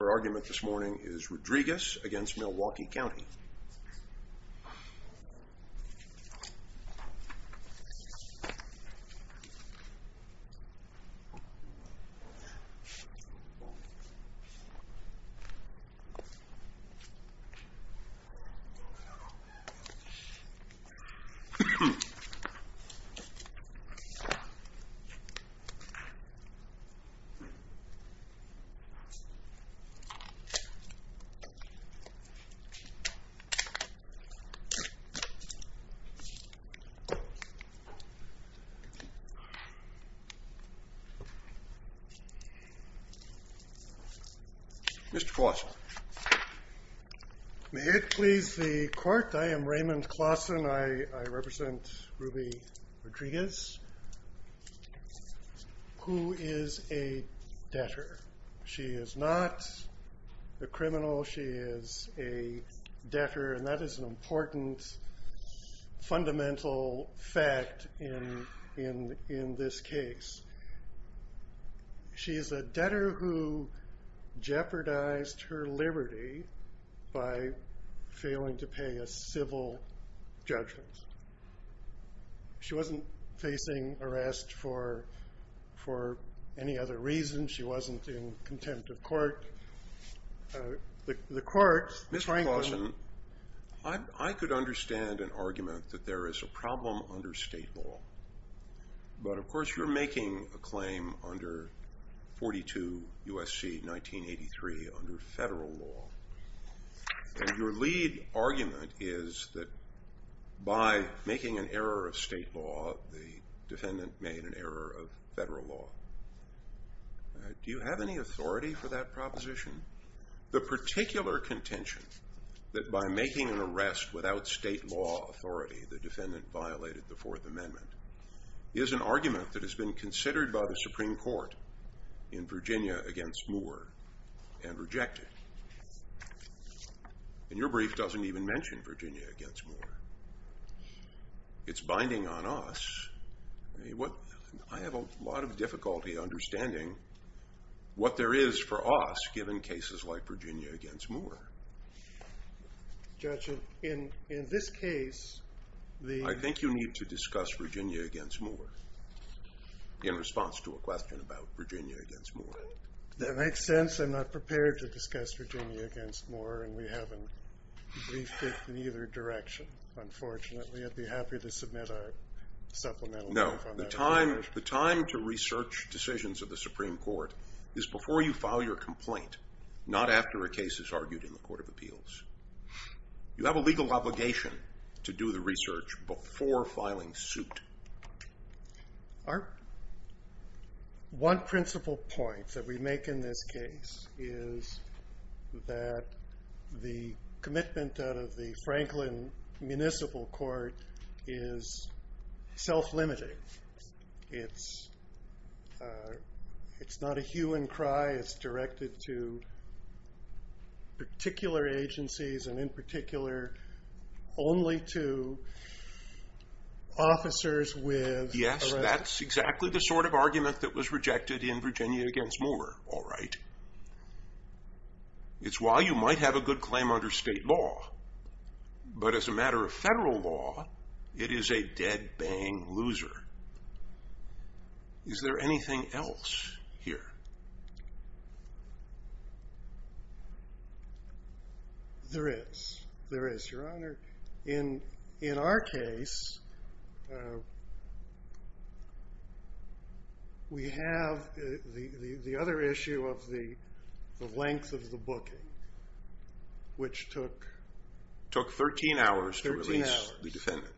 Our argument this morning is Rodriguez v. Milwaukee County. May it please the court, I am Raymond Claussen, I represent Ruby Rodriguez, who is a debtor. She is not a criminal, she is a debtor, and that is an important fundamental fact in this case. She is a debtor who jeopardized her liberty by failing to pay a civil judgment. She wasn't facing arrest for any other reason, she wasn't in contempt of court. Mr. Claussen, I could understand an argument that there is a problem under state law, but of course you're making a claim under 42 U.S.C. 1983 under federal law. Your lead argument is that by making an error of state law, the defendant made an error of federal law. Do you have any authority for that proposition? The particular contention that by making an arrest without state law authority, the defendant violated the Fourth Amendment, is an argument that has been considered by the Supreme Court in Virginia against Moore and rejected. And your brief doesn't even mention Virginia against Moore. It's binding on us. I have a lot of difficulty understanding what there is for us given cases like Virginia against Moore. Judge, in this case... I think you need to discuss Virginia against Moore in response to a question about Virginia against Moore. Does that make sense? I'm not prepared to discuss Virginia against Moore and we haven't briefed it in either direction, unfortunately. I'd be happy to submit a supplemental brief on that. The time to research decisions of the Supreme Court is before you file your complaint, not after a case is argued in the Court of Appeals. You have a legal obligation to do the research before filing suit. Our one principal point that we make in this case is that the commitment out of the Franklin Municipal Court is self-limiting. It's not a hue and cry. It's directed to particular agencies and in particular only to officers with... Yes, that's exactly the sort of argument that was rejected in Virginia against Moore. It's why you might have a good claim under state law, but as a matter of federal law, it is a dead-bang loser. Is there anything else here? There is. There is, Your Honor. In our case, we have the other issue of the length of the booking, which took... It took 13 hours to release the defendant.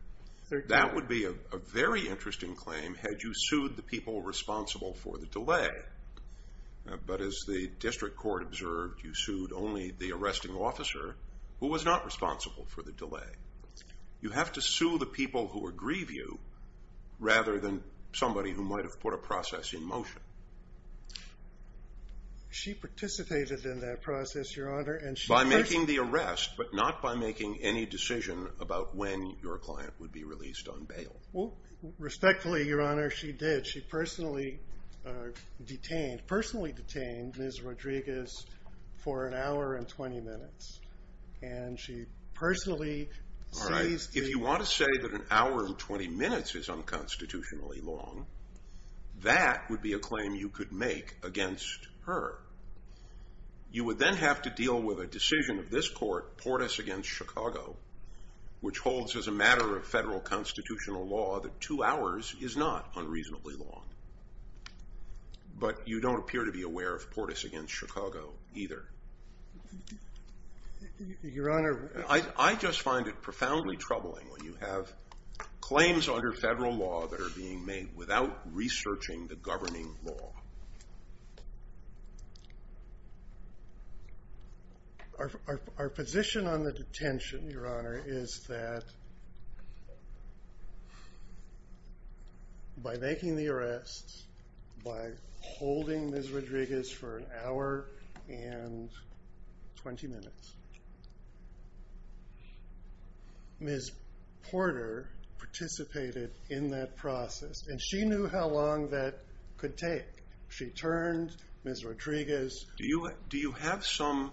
That would be a very interesting claim had you sued the people responsible for the delay. But as the district court observed, you sued only the arresting officer who was not responsible for the delay. You have to sue the people who aggrieve you rather than somebody who might have put a process in motion. She participated in that process, Your Honor. By making the arrest, but not by making any decision about when your client would be released on bail. Respectfully, Your Honor, she did. She personally detained Ms. Rodriguez for an hour and 20 minutes. If you want to say that an hour and 20 minutes is unconstitutionally long, that would be a claim you could make against her. You would then have to deal with a decision of this court, Portis v. Chicago, which holds as a matter of federal constitutional law that two hours is not unreasonably long. But you don't appear to be aware of Portis v. Chicago either. I just find it profoundly troubling when you have claims under federal law that are being made without researching the governing law. Our position on the detention, Your Honor, is that by making the arrest, by holding Ms. Rodriguez for an hour and 20 minutes, Ms. Porter participated in that process, and she knew how long that could take. She turned Ms. Rodriguez. Do you have some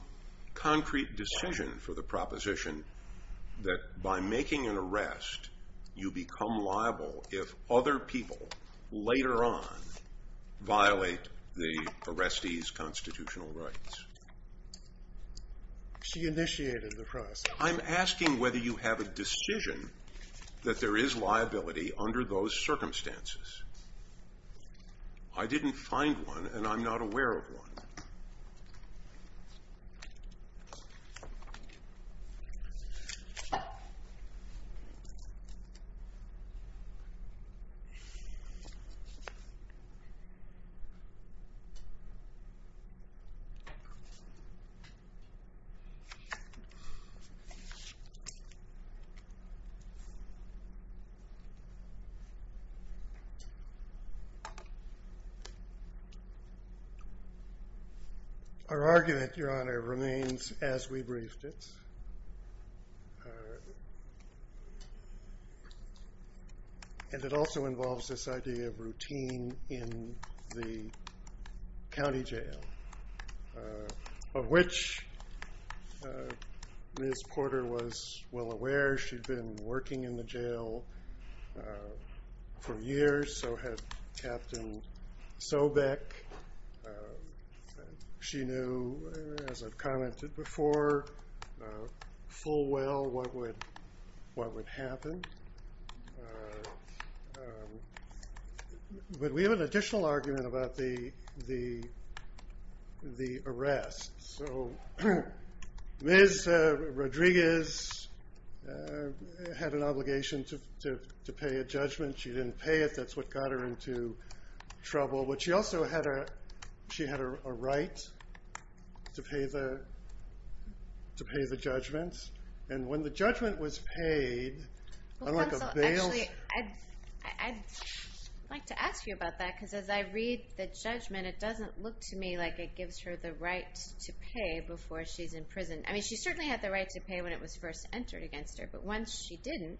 concrete decision for the proposition that by making an arrest, you become liable if other people later on violate the arrestee's constitutional rights? She initiated the process. I'm asking whether you have a decision that there is liability under those circumstances. I didn't find one, and I'm not aware of one. Our argument, Your Honor, remains as we briefed it, and it also involves this idea of routine in the county jail, of which Ms. Porter was well aware. She'd been working in the jail for years, so had Captain Sobeck. She knew, as I've commented before, full well what would happen. But we have an additional argument about the arrest. Ms. Rodriguez had an obligation to pay a judgment. She didn't pay it. That's what got her into trouble. But she also had a right to pay the judgment, and when the judgment was paid, unlike a bail— Actually, I'd like to ask you about that because as I read the judgment, it doesn't look to me like it gives her the right to pay before she's in prison. I mean, she certainly had the right to pay when it was first entered against her, but once she didn't,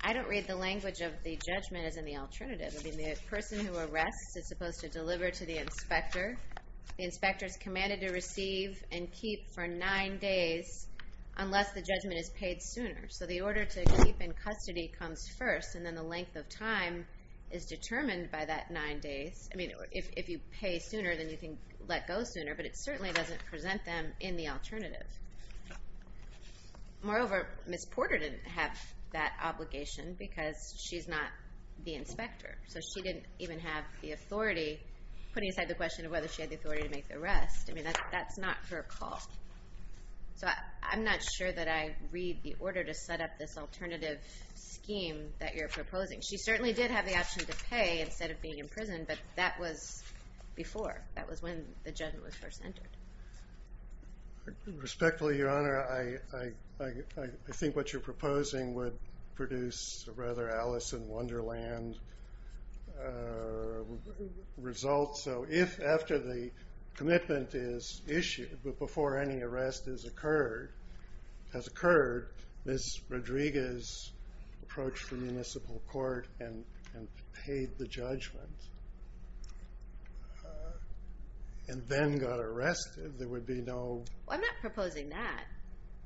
I don't read the language of the judgment as any alternative. I mean, the person who arrests is supposed to deliver to the inspector. The inspector is commanded to receive and keep for nine days unless the judgment is paid sooner. So the order to keep in custody comes first, and then the length of time is determined by that nine days. I mean, if you pay sooner, then you can let go sooner, but it certainly doesn't present them in the alternative. Moreover, Ms. Porter didn't have that obligation because she's not the inspector, so she didn't even have the authority, putting aside the question of whether she had the authority to make the arrest. I mean, that's not her call. So I'm not sure that I read the order to set up this alternative scheme that you're proposing. She certainly did have the option to pay instead of being in prison, but that was before. That was when the judgment was first entered. Respectfully, Your Honor, I think what you're proposing would produce a rather Alice in Wonderland result. So if after the commitment is issued, but before any arrest has occurred, Ms. Rodriguez approached the municipal court and paid the judgment and then got arrested, there would be no. I'm not proposing that.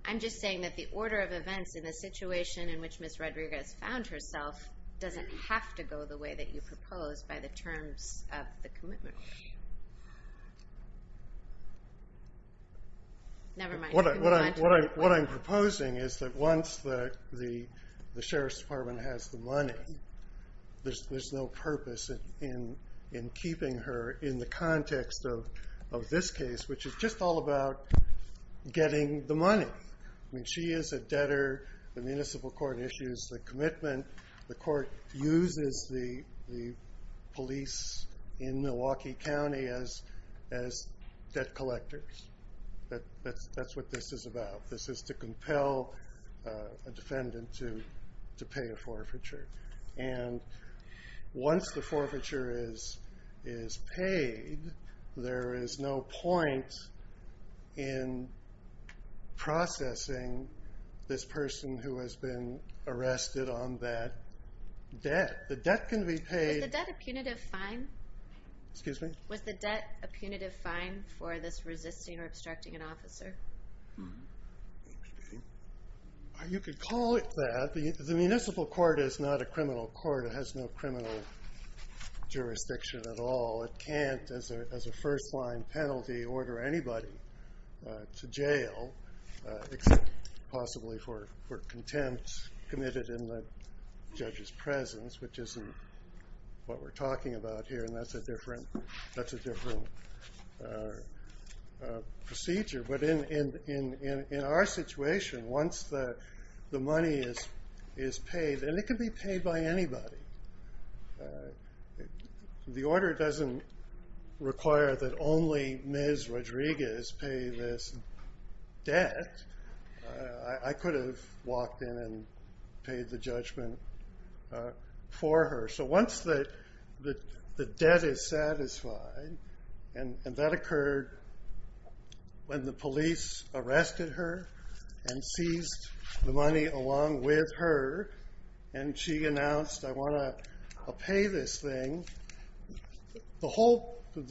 I'm just saying that the order of events in the situation in which Ms. Rodriguez found herself doesn't have to go the way that you proposed by the terms of the commitment. Never mind. What I'm proposing is that once the sheriff's department has the money, there's no purpose in keeping her in the context of this case, which is just all about getting the money. I mean, she is a debtor. The municipal court issues the commitment. The court uses the police in Milwaukee County as debt collectors. That's what this is about. This is to compel a defendant to pay a forfeiture. Once the forfeiture is paid, there is no point in processing this person who has been arrested on that debt. Was the debt a punitive fine for this resisting or obstructing an officer? You could call it that. The municipal court is not a criminal court. It has no criminal jurisdiction at all. It can't, as a first-line penalty, order anybody to jail, except possibly for contempt committed in the judge's presence, which isn't what we're talking about here, and that's a different procedure. But in our situation, once the money is paid, and it can be paid by anybody. The order doesn't require that only Ms. Rodriguez pay this debt. I could have walked in and paid the judgment for her. Once the debt is satisfied, and that occurred when the police arrested her and seized the money along with her, and she announced, I want to pay this thing, the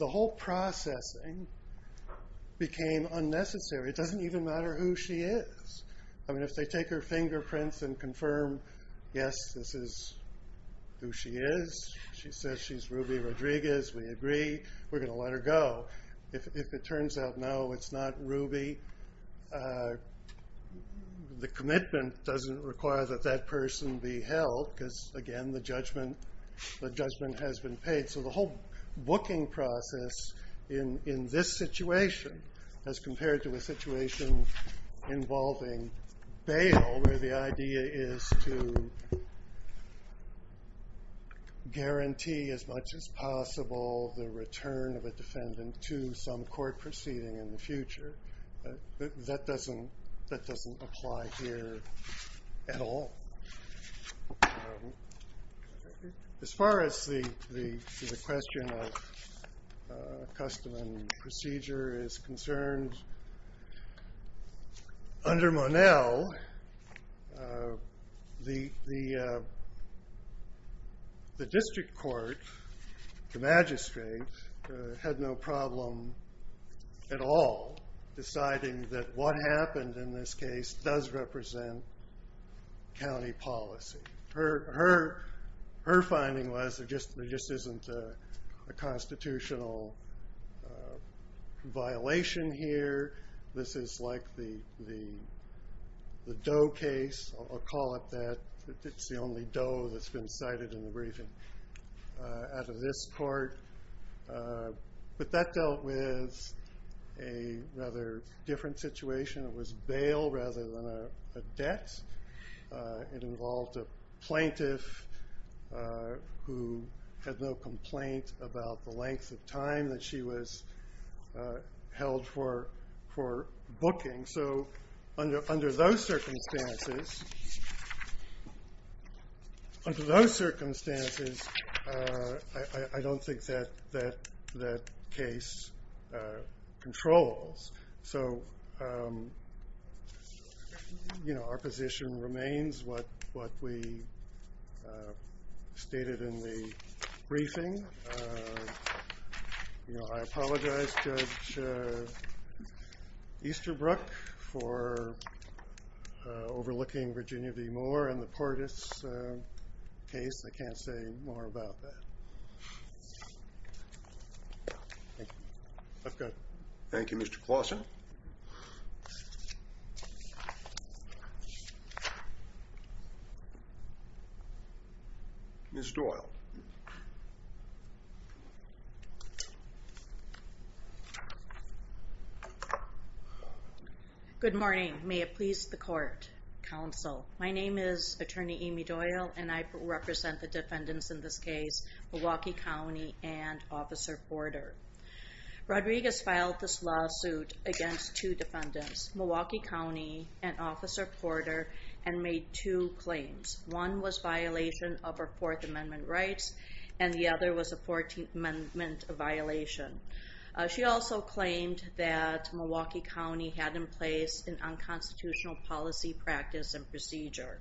whole processing became unnecessary. It doesn't even matter who she is. If they take her fingerprints and confirm, yes, this is who she is. She says she's Ruby Rodriguez. We agree. We're going to let her go. If it turns out, no, it's not Ruby, the commitment doesn't require that that person be held because, again, the judgment has been paid. So the whole booking process in this situation, as compared to a situation involving bail, where the idea is to guarantee as much as possible the return of a defendant to some court proceeding in the future, that doesn't apply here at all. As far as the question of custom and procedure is concerned, under Monell, the district court, the magistrate, had no problem at all deciding that what happened in this case does represent county policy. Her finding was there just isn't a constitutional violation here. This is like the Doe case. I'll call it that. It's the only Doe that's been cited in the briefing out of this court. But that dealt with a rather different situation. It was bail rather than a debt. It involved a plaintiff who had no complaint about the length of time that she was held for booking. So under those circumstances, I don't think that that case controls. So our position remains what we stated in the briefing. I apologize, Judge Easterbrook, for overlooking Virginia v. Moore and the Portis case. I can't say more about that. Thank you. Let's go. Thank you, Mr. Claussen. Ms. Doyle. Good morning. May it please the court, counsel. My name is Attorney Amy Doyle, and I represent the defendants in this case, Milwaukee County and Officer Porter. Rodriguez filed this lawsuit against two defendants, Milwaukee County and Officer Porter, and made two claims. One was violation of her Fourth Amendment rights, and the other was a Fourteenth Amendment violation. She also claimed that Milwaukee County had in place an unconstitutional policy, practice, and procedure.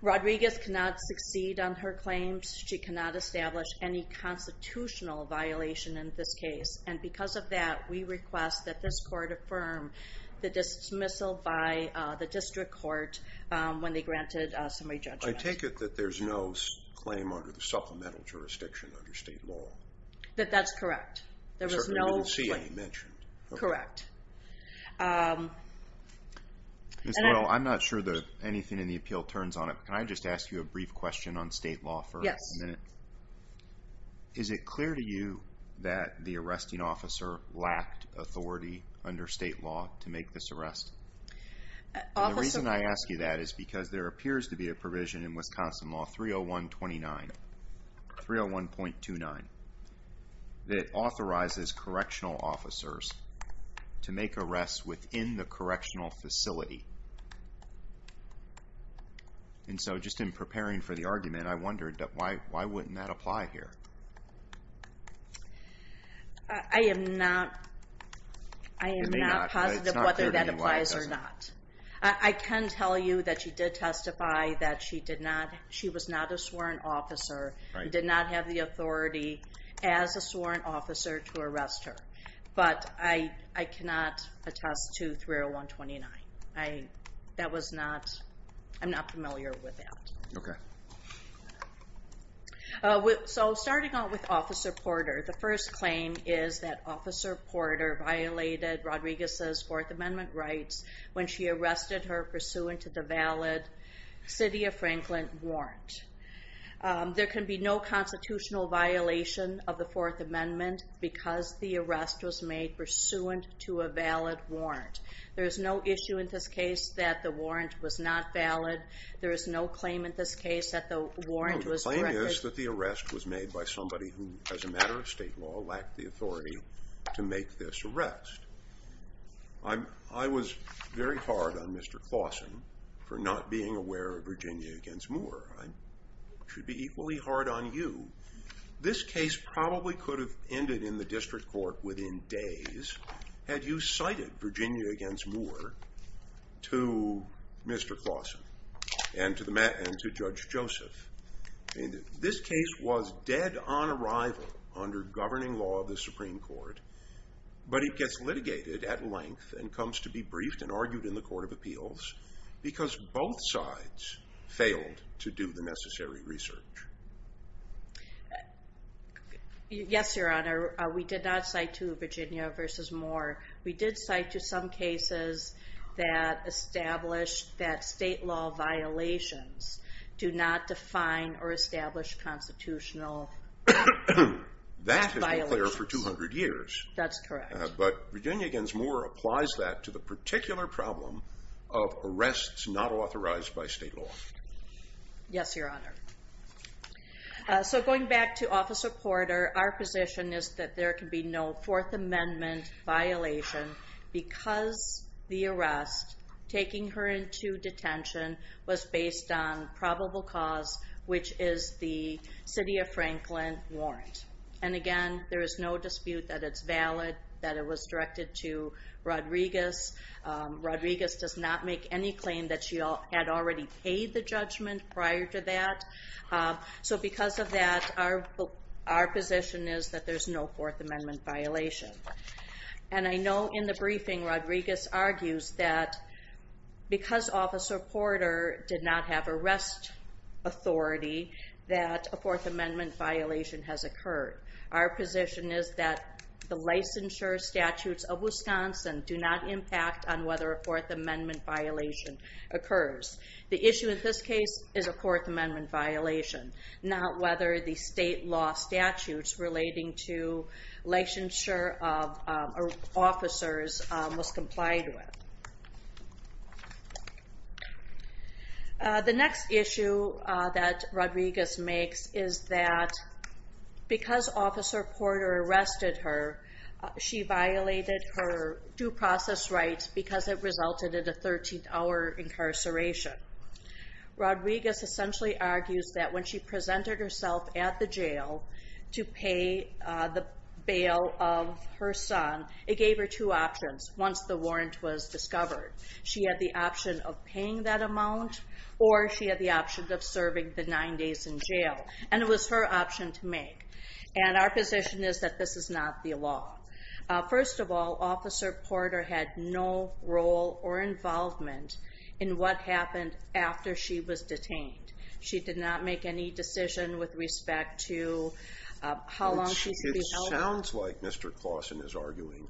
Rodriguez cannot succeed on her claims. She cannot establish any constitutional violation in this case. And because of that, we request that this court affirm the dismissal by the district court when they granted summary judgment. I take it that there's no claim under the supplemental jurisdiction under state law. That that's correct. There was no claim mentioned. Correct. Ms. Doyle, I'm not sure that anything in the appeal turns on it, but can I just ask you a brief question on state law for a minute? Yes. Is it clear to you that the arresting officer lacked authority under state law to make this arrest? The reason I ask you that is because there appears to be a provision in Wisconsin Law 301.29 that authorizes correctional officers to make arrests within the correctional facility. And so just in preparing for the argument, I wondered why wouldn't that apply here? I am not positive whether that applies or not. I can tell you that she did testify that she was not a sworn officer, did not have the authority as a sworn officer to arrest her. But I cannot attest to 301.29. I'm not familiar with that. Okay. So starting out with Officer Porter, the first claim is that Officer Porter violated Rodriguez's Fourth Amendment rights when she arrested her pursuant to the valid City of Franklin warrant. There can be no constitutional violation of the Fourth Amendment because the arrest was made pursuant to a valid warrant. There is no issue in this case that the warrant was not valid. There is no claim in this case that the warrant was corrected. The claim is that the arrest was made by somebody who, as a matter of state law, lacked the authority to make this arrest. I was very hard on Mr. Clausen for not being aware of Virginia v. Moore. I should be equally hard on you. This case probably could have ended in the district court within days had you cited Virginia v. Moore to Mr. Clausen and to Judge Joseph. This case was dead on arrival under governing law of the Supreme Court, but it gets litigated at length and comes to be briefed and argued in the Court of Appeals because both sides failed to do the necessary research. Yes, Your Honor. We did not cite two Virginia v. Moore. We did cite you some cases that established that state law violations do not define or establish constitutional violations. That has been clear for 200 years. That's correct. But Virginia v. Moore applies that to the particular problem of arrests not authorized by state law. Yes, Your Honor. Going back to Officer Porter, our position is that there can be no Fourth Amendment violation because the arrest taking her into detention was based on probable cause, which is the City of Franklin warrant. Again, there is no dispute that it's valid, that it was directed to Rodriguez. Rodriguez does not make any claim that she had already paid the judgment prior to that. So because of that, our position is that there's no Fourth Amendment violation. And I know in the briefing, Rodriguez argues that because Officer Porter did not have arrest authority, that a Fourth Amendment violation has occurred. Our position is that the licensure statutes of Wisconsin do not impact on whether a Fourth Amendment violation occurs. The issue in this case is a Fourth Amendment violation, not whether the state law statutes relating to licensure of officers was complied with. The next issue that Rodriguez makes is that because Officer Porter arrested her, she violated her due process rights because it resulted in a 13-hour incarceration. Rodriguez essentially argues that when she presented herself at the jail to pay the bail of her son, it gave her two options once the warrant was discovered. She had the option of paying that amount, or she had the option of serving the nine days in jail. And it was her option to make. And our position is that this is not the law. First of all, Officer Porter had no role or involvement in what happened after she was detained. She did not make any decision with respect to how long she should be held. It sounds like Mr. Claussen is arguing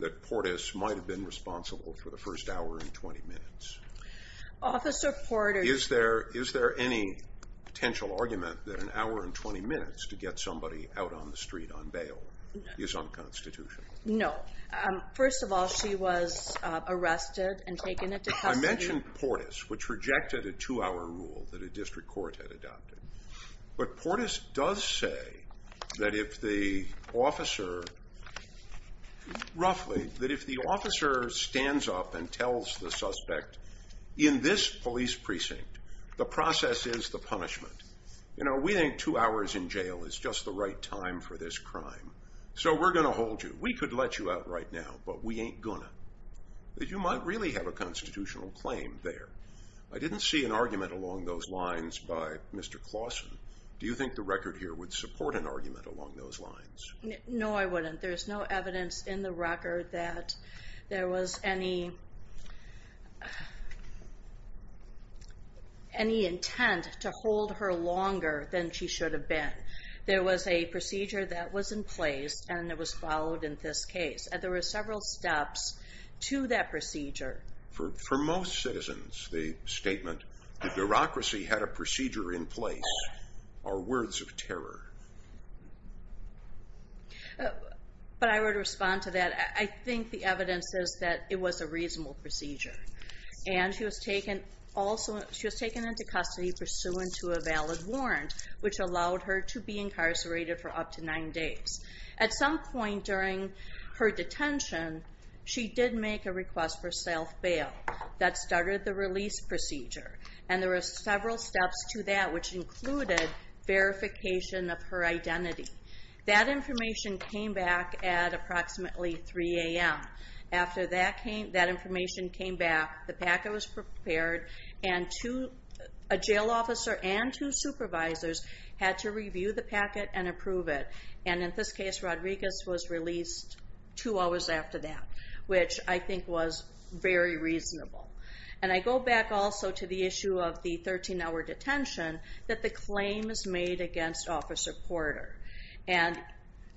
that Portis might have been responsible for the first hour and 20 minutes. Officer Porter- Is there any potential argument that an hour and 20 minutes to get somebody out on the street on bail is unconstitutional? No. First of all, she was arrested and taken into custody- I mentioned Portis, which rejected a two-hour rule that a district court had adopted. But Portis does say that if the officer stands up and tells the suspect, in this police precinct, the process is the punishment. We think two hours in jail is just the right time for this crime, so we're going to hold you. We could let you out right now, but we ain't gonna. You might really have a constitutional claim there. I didn't see an argument along those lines by Mr. Claussen. Do you think the record here would support an argument along those lines? No, I wouldn't. There's no evidence in the record that there was any intent to hold her longer than she should have been. There was a procedure that was in place, and it was followed in this case. There were several steps to that procedure. For most citizens, the statement, the bureaucracy had a procedure in place are words of terror. But I would respond to that. I think the evidence says that it was a reasonable procedure, and she was taken into custody pursuant to a valid warrant, which allowed her to be incarcerated for up to nine days. At some point during her detention, she did make a request for self-bail. That started the release procedure, and there were several steps to that, which included verification of her identity. That information came back at approximately 3 a.m. After that information came back, the packet was prepared, and a jail officer and two supervisors had to review the packet and approve it. In this case, Rodriguez was released two hours after that, which I think was very reasonable. I go back also to the issue of the 13-hour detention that the claim is made against Officer Porter.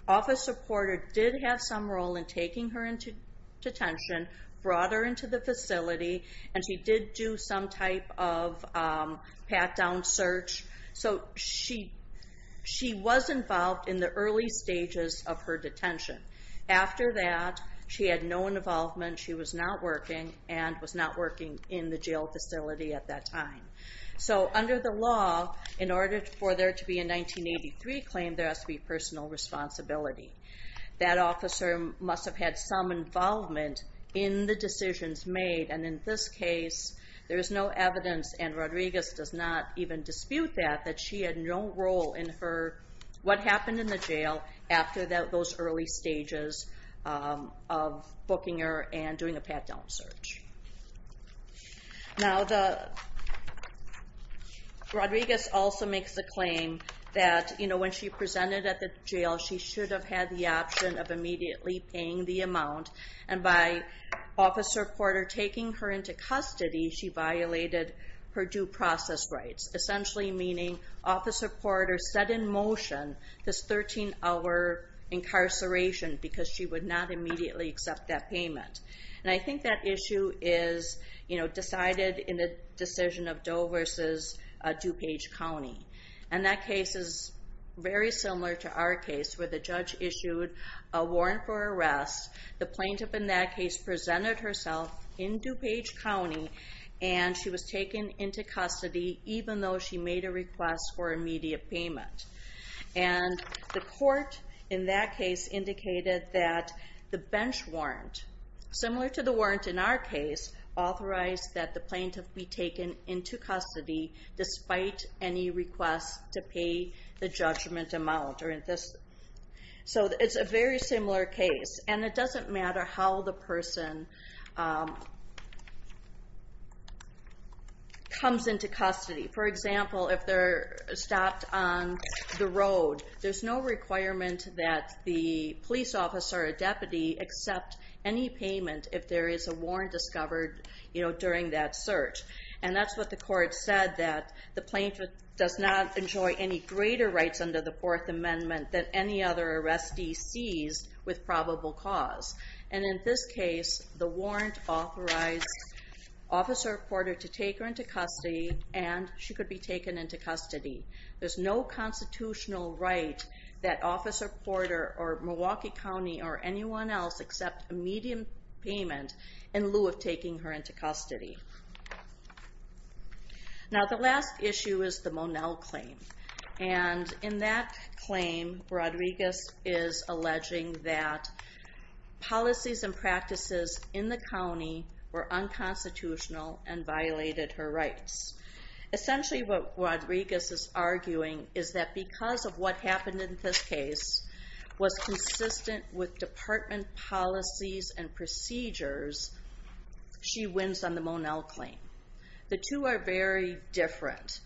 Officer Porter did have some role in taking her into detention, brought her into the facility, and she did do some type of pat-down search. She was involved in the early stages of her detention. After that, she had no involvement, she was not working, and was not working in the jail facility at that time. Under the law, in order for there to be a 1983 claim, there has to be personal responsibility. That officer must have had some involvement in the decisions made, and in this case there is no evidence, and Rodriguez does not even dispute that, that she had no role in what happened in the jail after those early stages of booking her and doing a pat-down search. Rodriguez also makes the claim that when she presented at the jail, she should have had the option of immediately paying the amount, and by Officer Porter taking her into custody, she violated her due process rights, essentially meaning Officer Porter set in motion this 13-hour incarceration because she would not immediately accept that payment. And I think that issue is decided in the decision of Doe versus DuPage County. And that case is very similar to our case where the judge issued a warrant for arrest, the plaintiff in that case presented herself in DuPage County, and she was taken into custody even though she made a request for immediate payment. And the court in that case indicated that the bench warrant, similar to the warrant in our case, authorized that the plaintiff be taken into custody despite any request to pay the judgment amount. So it's a very similar case, and it doesn't matter how the person comes into custody. For example, if they're stopped on the road, there's no requirement that the police officer or deputy accept any payment if there is a warrant discovered during that search. And that's what the court said, that the plaintiff does not enjoy any greater rights under the Fourth Amendment than any other arrestee seized with probable cause. And in this case, the warrant authorized Officer Porter to take her into custody, and she could be taken into custody. There's no constitutional right that Officer Porter or Milwaukee County or anyone else accept immediate payment in lieu of taking her into custody. Now the last issue is the Monell claim. And in that claim, Rodriguez is alleging that policies and practices in the county were unconstitutional and violated her rights. Essentially what Rodriguez is arguing is that because of what happened in this case was consistent with department policies and procedures, she wins on the Monell claim. The two are very different.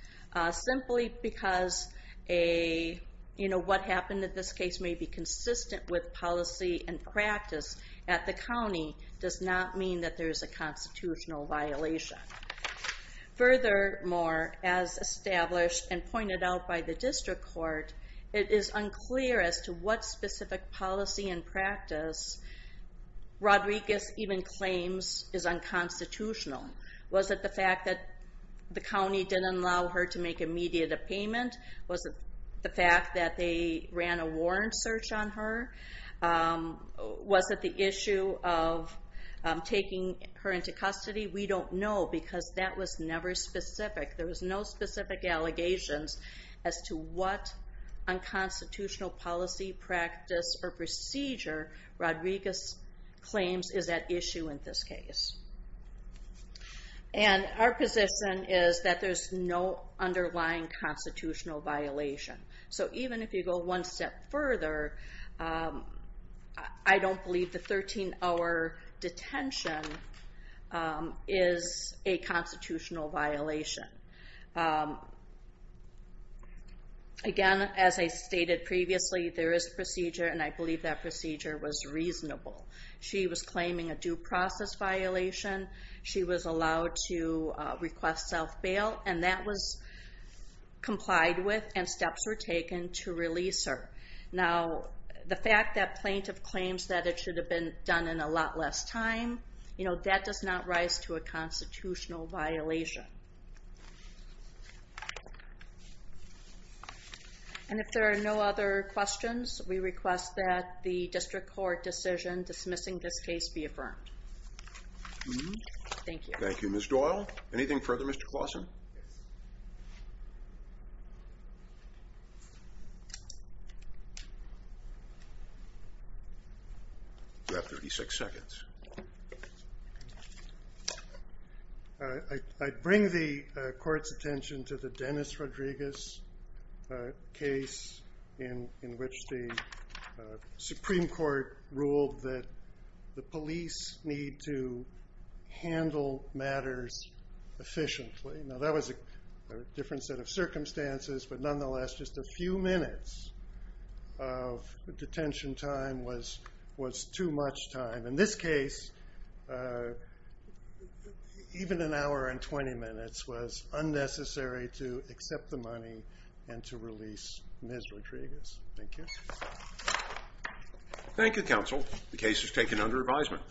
Simply because what happened in this case may be consistent with policy and practice at the county does not mean that there is a constitutional violation. Furthermore, as established and pointed out by the district court, it is unclear as to what specific policy and practice Rodriguez even claims is unconstitutional. Was it the fact that the county didn't allow her to make immediate a payment? Was it the fact that they ran a warrant search on her? Was it the issue of taking her into custody? We don't know because that was never specific. There was no specific allegations as to what unconstitutional policy, practice, or procedure Rodriguez claims is at issue in this case. And our position is that there's no underlying constitutional violation. So even if you go one step further, I don't believe the 13-hour detention is a constitutional violation. Again, as I stated previously, there is procedure, and I believe that procedure was reasonable. She was claiming a due process violation. She was allowed to request self-bail, and that was complied with and steps were taken to release her. Now the fact that plaintiff claims that it should have been done in a lot less time, you know, that does not rise to a constitutional violation. And if there are no other questions, we request that the district court decision dismissing this case be affirmed. Thank you. Thank you, Ms. Doyle. Anything further, Mr. Claussen? Yes. You have 36 seconds. I bring the court's attention to the Dennis Rodriguez case in which the Supreme Court ruled that the police need to handle matters efficiently. Now that was a different set of circumstances, but nonetheless, just a few minutes of detention time was too much time. In this case, even an hour and 20 minutes was unnecessary to accept the money and to release Ms. Rodriguez. Thank you. Thank you, counsel. The case is taken under advisement.